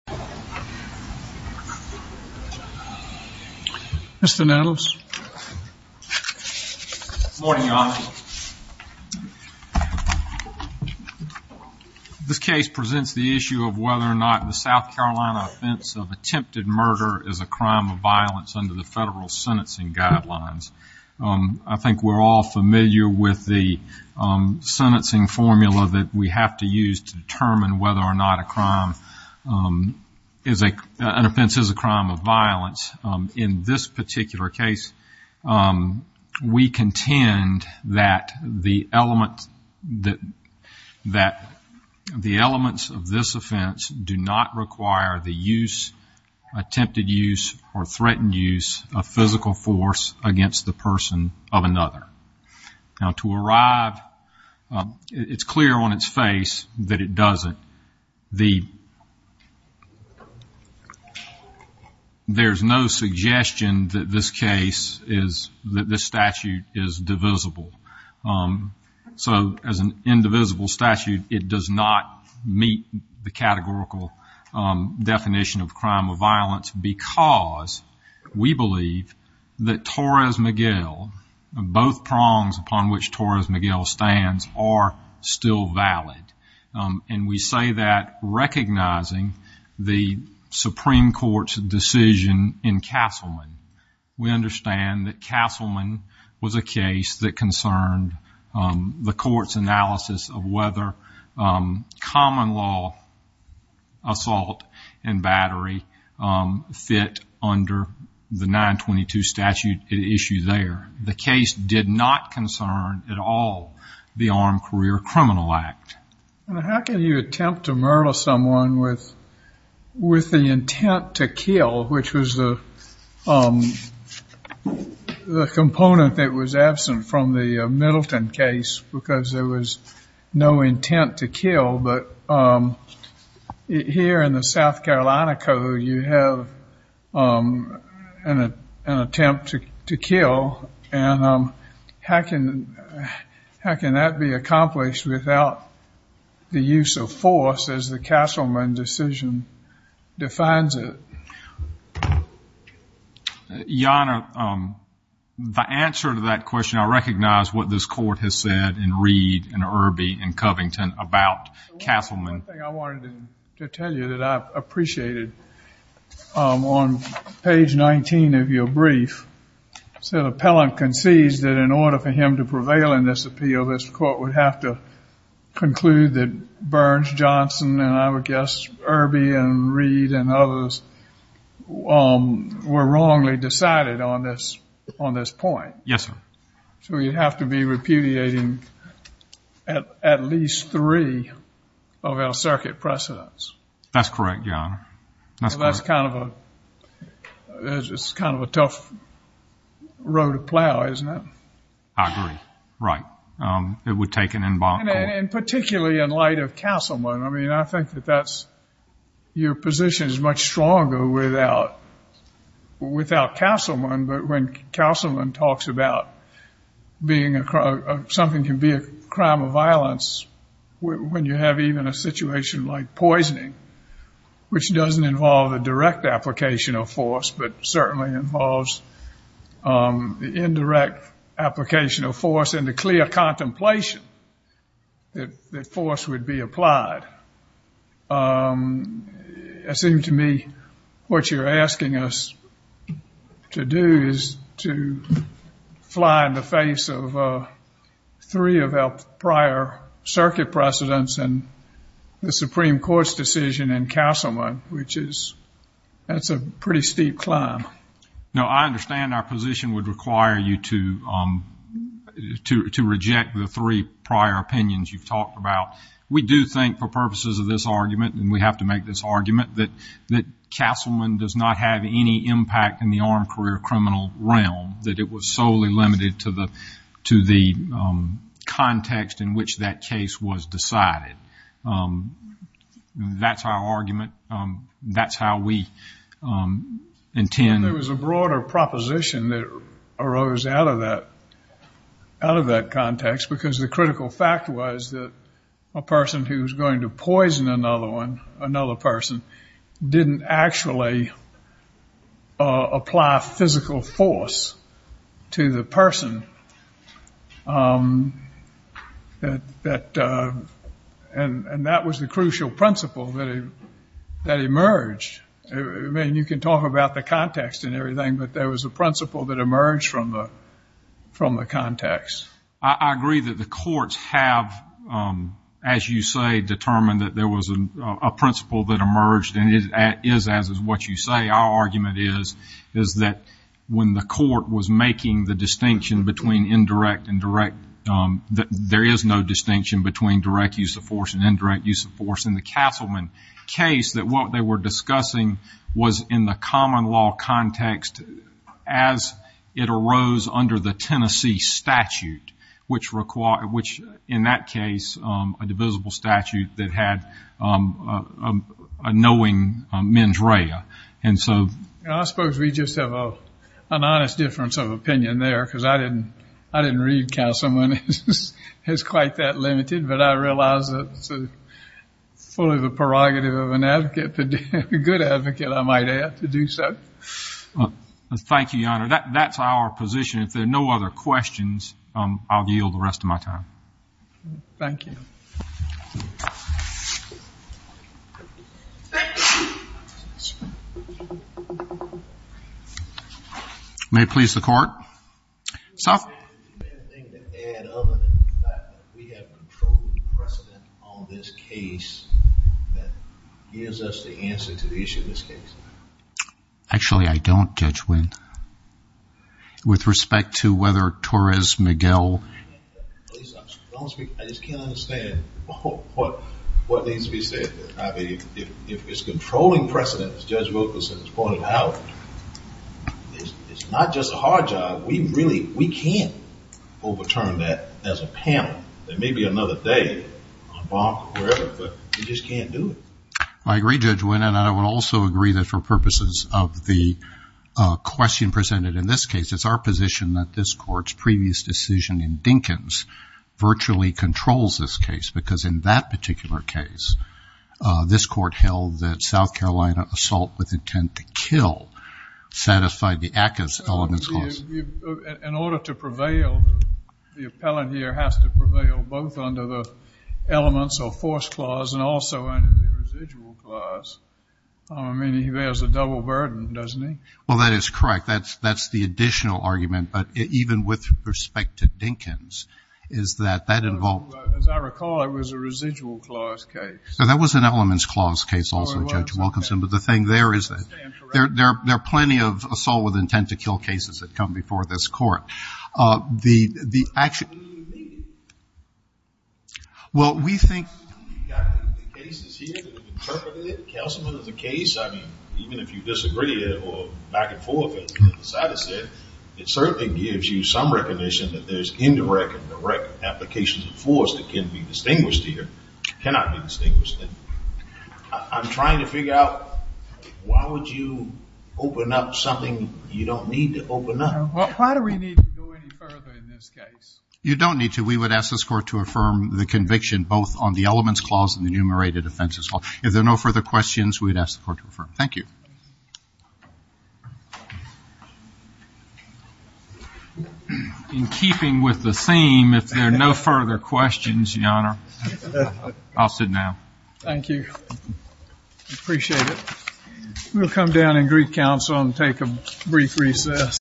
This case presents the issue of whether or not the South Carolina offense of attempted murder is a crime of violence under the federal sentencing guidelines. I think we're all familiar with the sentencing formula that we have to use to determine whether or not an offense is a crime of violence. In this particular case, we contend that the elements of this offense do not require the attempted use or threatened use of physical force against the person of another. Now, to arrive, it's clear on its face that it doesn't. There's no suggestion that this case is, that this statute is divisible. So, as an indivisible statute, it does not meet the categorical definition of crime of violence because we believe that Torres-Miguel, both prongs upon which Torres-Miguel stands, are still valid. And we say that recognizing the Supreme Court's decision in Castleman. We understand that Castleman was a case that concerned the court's analysis of whether common law assault and battery fit under the 922 statute at issue there. The case did not concern at all the Armed Career Criminal Act. How can you attempt to murder someone with the intent to kill, which was the component that was absent from the Middleton case because there was no intent to kill, but here in the South Carolina Code, you have an attempt to kill. And how can that be accomplished without the use of force as the Castleman decision defines it? Your Honor, the answer to that question, I recognize what this court has said in Reed and Irby and Covington about Castleman. One thing I wanted to tell you that I appreciated, on page 19 of your brief, the appellant concedes that in order for him to prevail in this appeal, this court would have to conclude that Burns, Johnson, and I would guess Irby and Reed and others were wrongly decided on this point. Yes, sir. So you'd have to be repudiating at least three of our circuit precedents. That's correct, Your Honor. That's kind of a tough row to plow, isn't it? I agree. Right. It would take an involved court. And particularly in light of Castleman, I mean, I think that your position is much stronger without Castleman, but when Castleman talks about something can be a crime of violence when you have even a situation like poisoning, which doesn't involve a direct application of force, but certainly involves the indirect application of force and the clear contemplation that force would be applied. It seems to me what you're asking us to do is to fly in the face of three of our prior circuit precedents and the Supreme Court's decision in Castleman, which is a pretty steep climb. No, I understand our position would require you to reject the three prior opinions you've talked about. We do think for purposes of this argument, and we have to make this argument, that Castleman does not have any impact in the armed career criminal realm, that it was solely limited to the context in which that case was decided. That's our argument. That's how we intend. There was a broader proposition that arose out of that context, because the critical fact was that a person who was going to poison another one, another person, didn't actually apply physical force to the person, and that was the crucial principle that emerged. I mean, you can talk about the context and everything, but there was a principle that emerged from the context. I agree that the courts have, as you say, determined that there was a principle that emerged, and it is as is what you say. Our argument is that when the court was making the distinction between indirect and direct, that there is no distinction between direct use of force and indirect use of force in the Castleman case, that what they were discussing was in the common law context as it arose under the Tennessee statute, which in that case, a divisible statute that had a knowing mens rea. I suppose we just have an honest difference of opinion there, because I didn't read Castleman as quite that limited, but I realize that it's fully the prerogative of a good advocate, I might add, to do so. Thank you, Your Honor. That's our position. If there are no other questions, I'll yield the rest of my time. Thank you. May it please the Court. Your Honor, is there anything to add other than the fact that we have controlled precedent on this case that gives us the answer to the issue of this case? Actually, I don't, Judge Winn. With respect to whether Torres-Miguel… I just can't understand what needs to be said. If it's controlling precedent, as Judge Wilkerson has pointed out, it's not just a hard job. We really can't overturn that as a panel. There may be another day on bonk or wherever, but we just can't do it. I agree, Judge Winn, and I would also agree that for purposes of the question presented in this case, it's our position that this Court's previous decision in Dinkins virtually controls this case, because in that particular case, this Court held that South Carolina assault with intent to kill satisfied the ACCA's elements clause. In order to prevail, the appellant here has to prevail both under the elements or force clause and also under the residual clause. I mean, he bears a double burden, doesn't he? Well, that is correct. That's the additional argument, but even with respect to Dinkins, is that that involved… Well, as I recall, it was a residual clause case. That was an elements clause case also, Judge Wilkerson, but the thing there is that there are plenty of assault with intent to kill cases that come before this Court. The action… Well, we think… You've got cases here that have interpreted it. Counselman, as a case, I mean, even if you disagree or back and forth, it certainly gives you some recognition that there's indirect and direct applications of force that can be distinguished here, cannot be distinguished. I'm trying to figure out why would you open up something you don't need to open up. Why do we need to go any further in this case? You don't need to. We would ask this Court to affirm the conviction both on the elements clause and the enumerated offenses clause. If there are no further questions, we would ask the Court to affirm. Thank you. In keeping with the theme, if there are no further questions, Your Honor, I'll sit down. Thank you. Appreciate it. We'll come down in Greek Council and take a brief recess.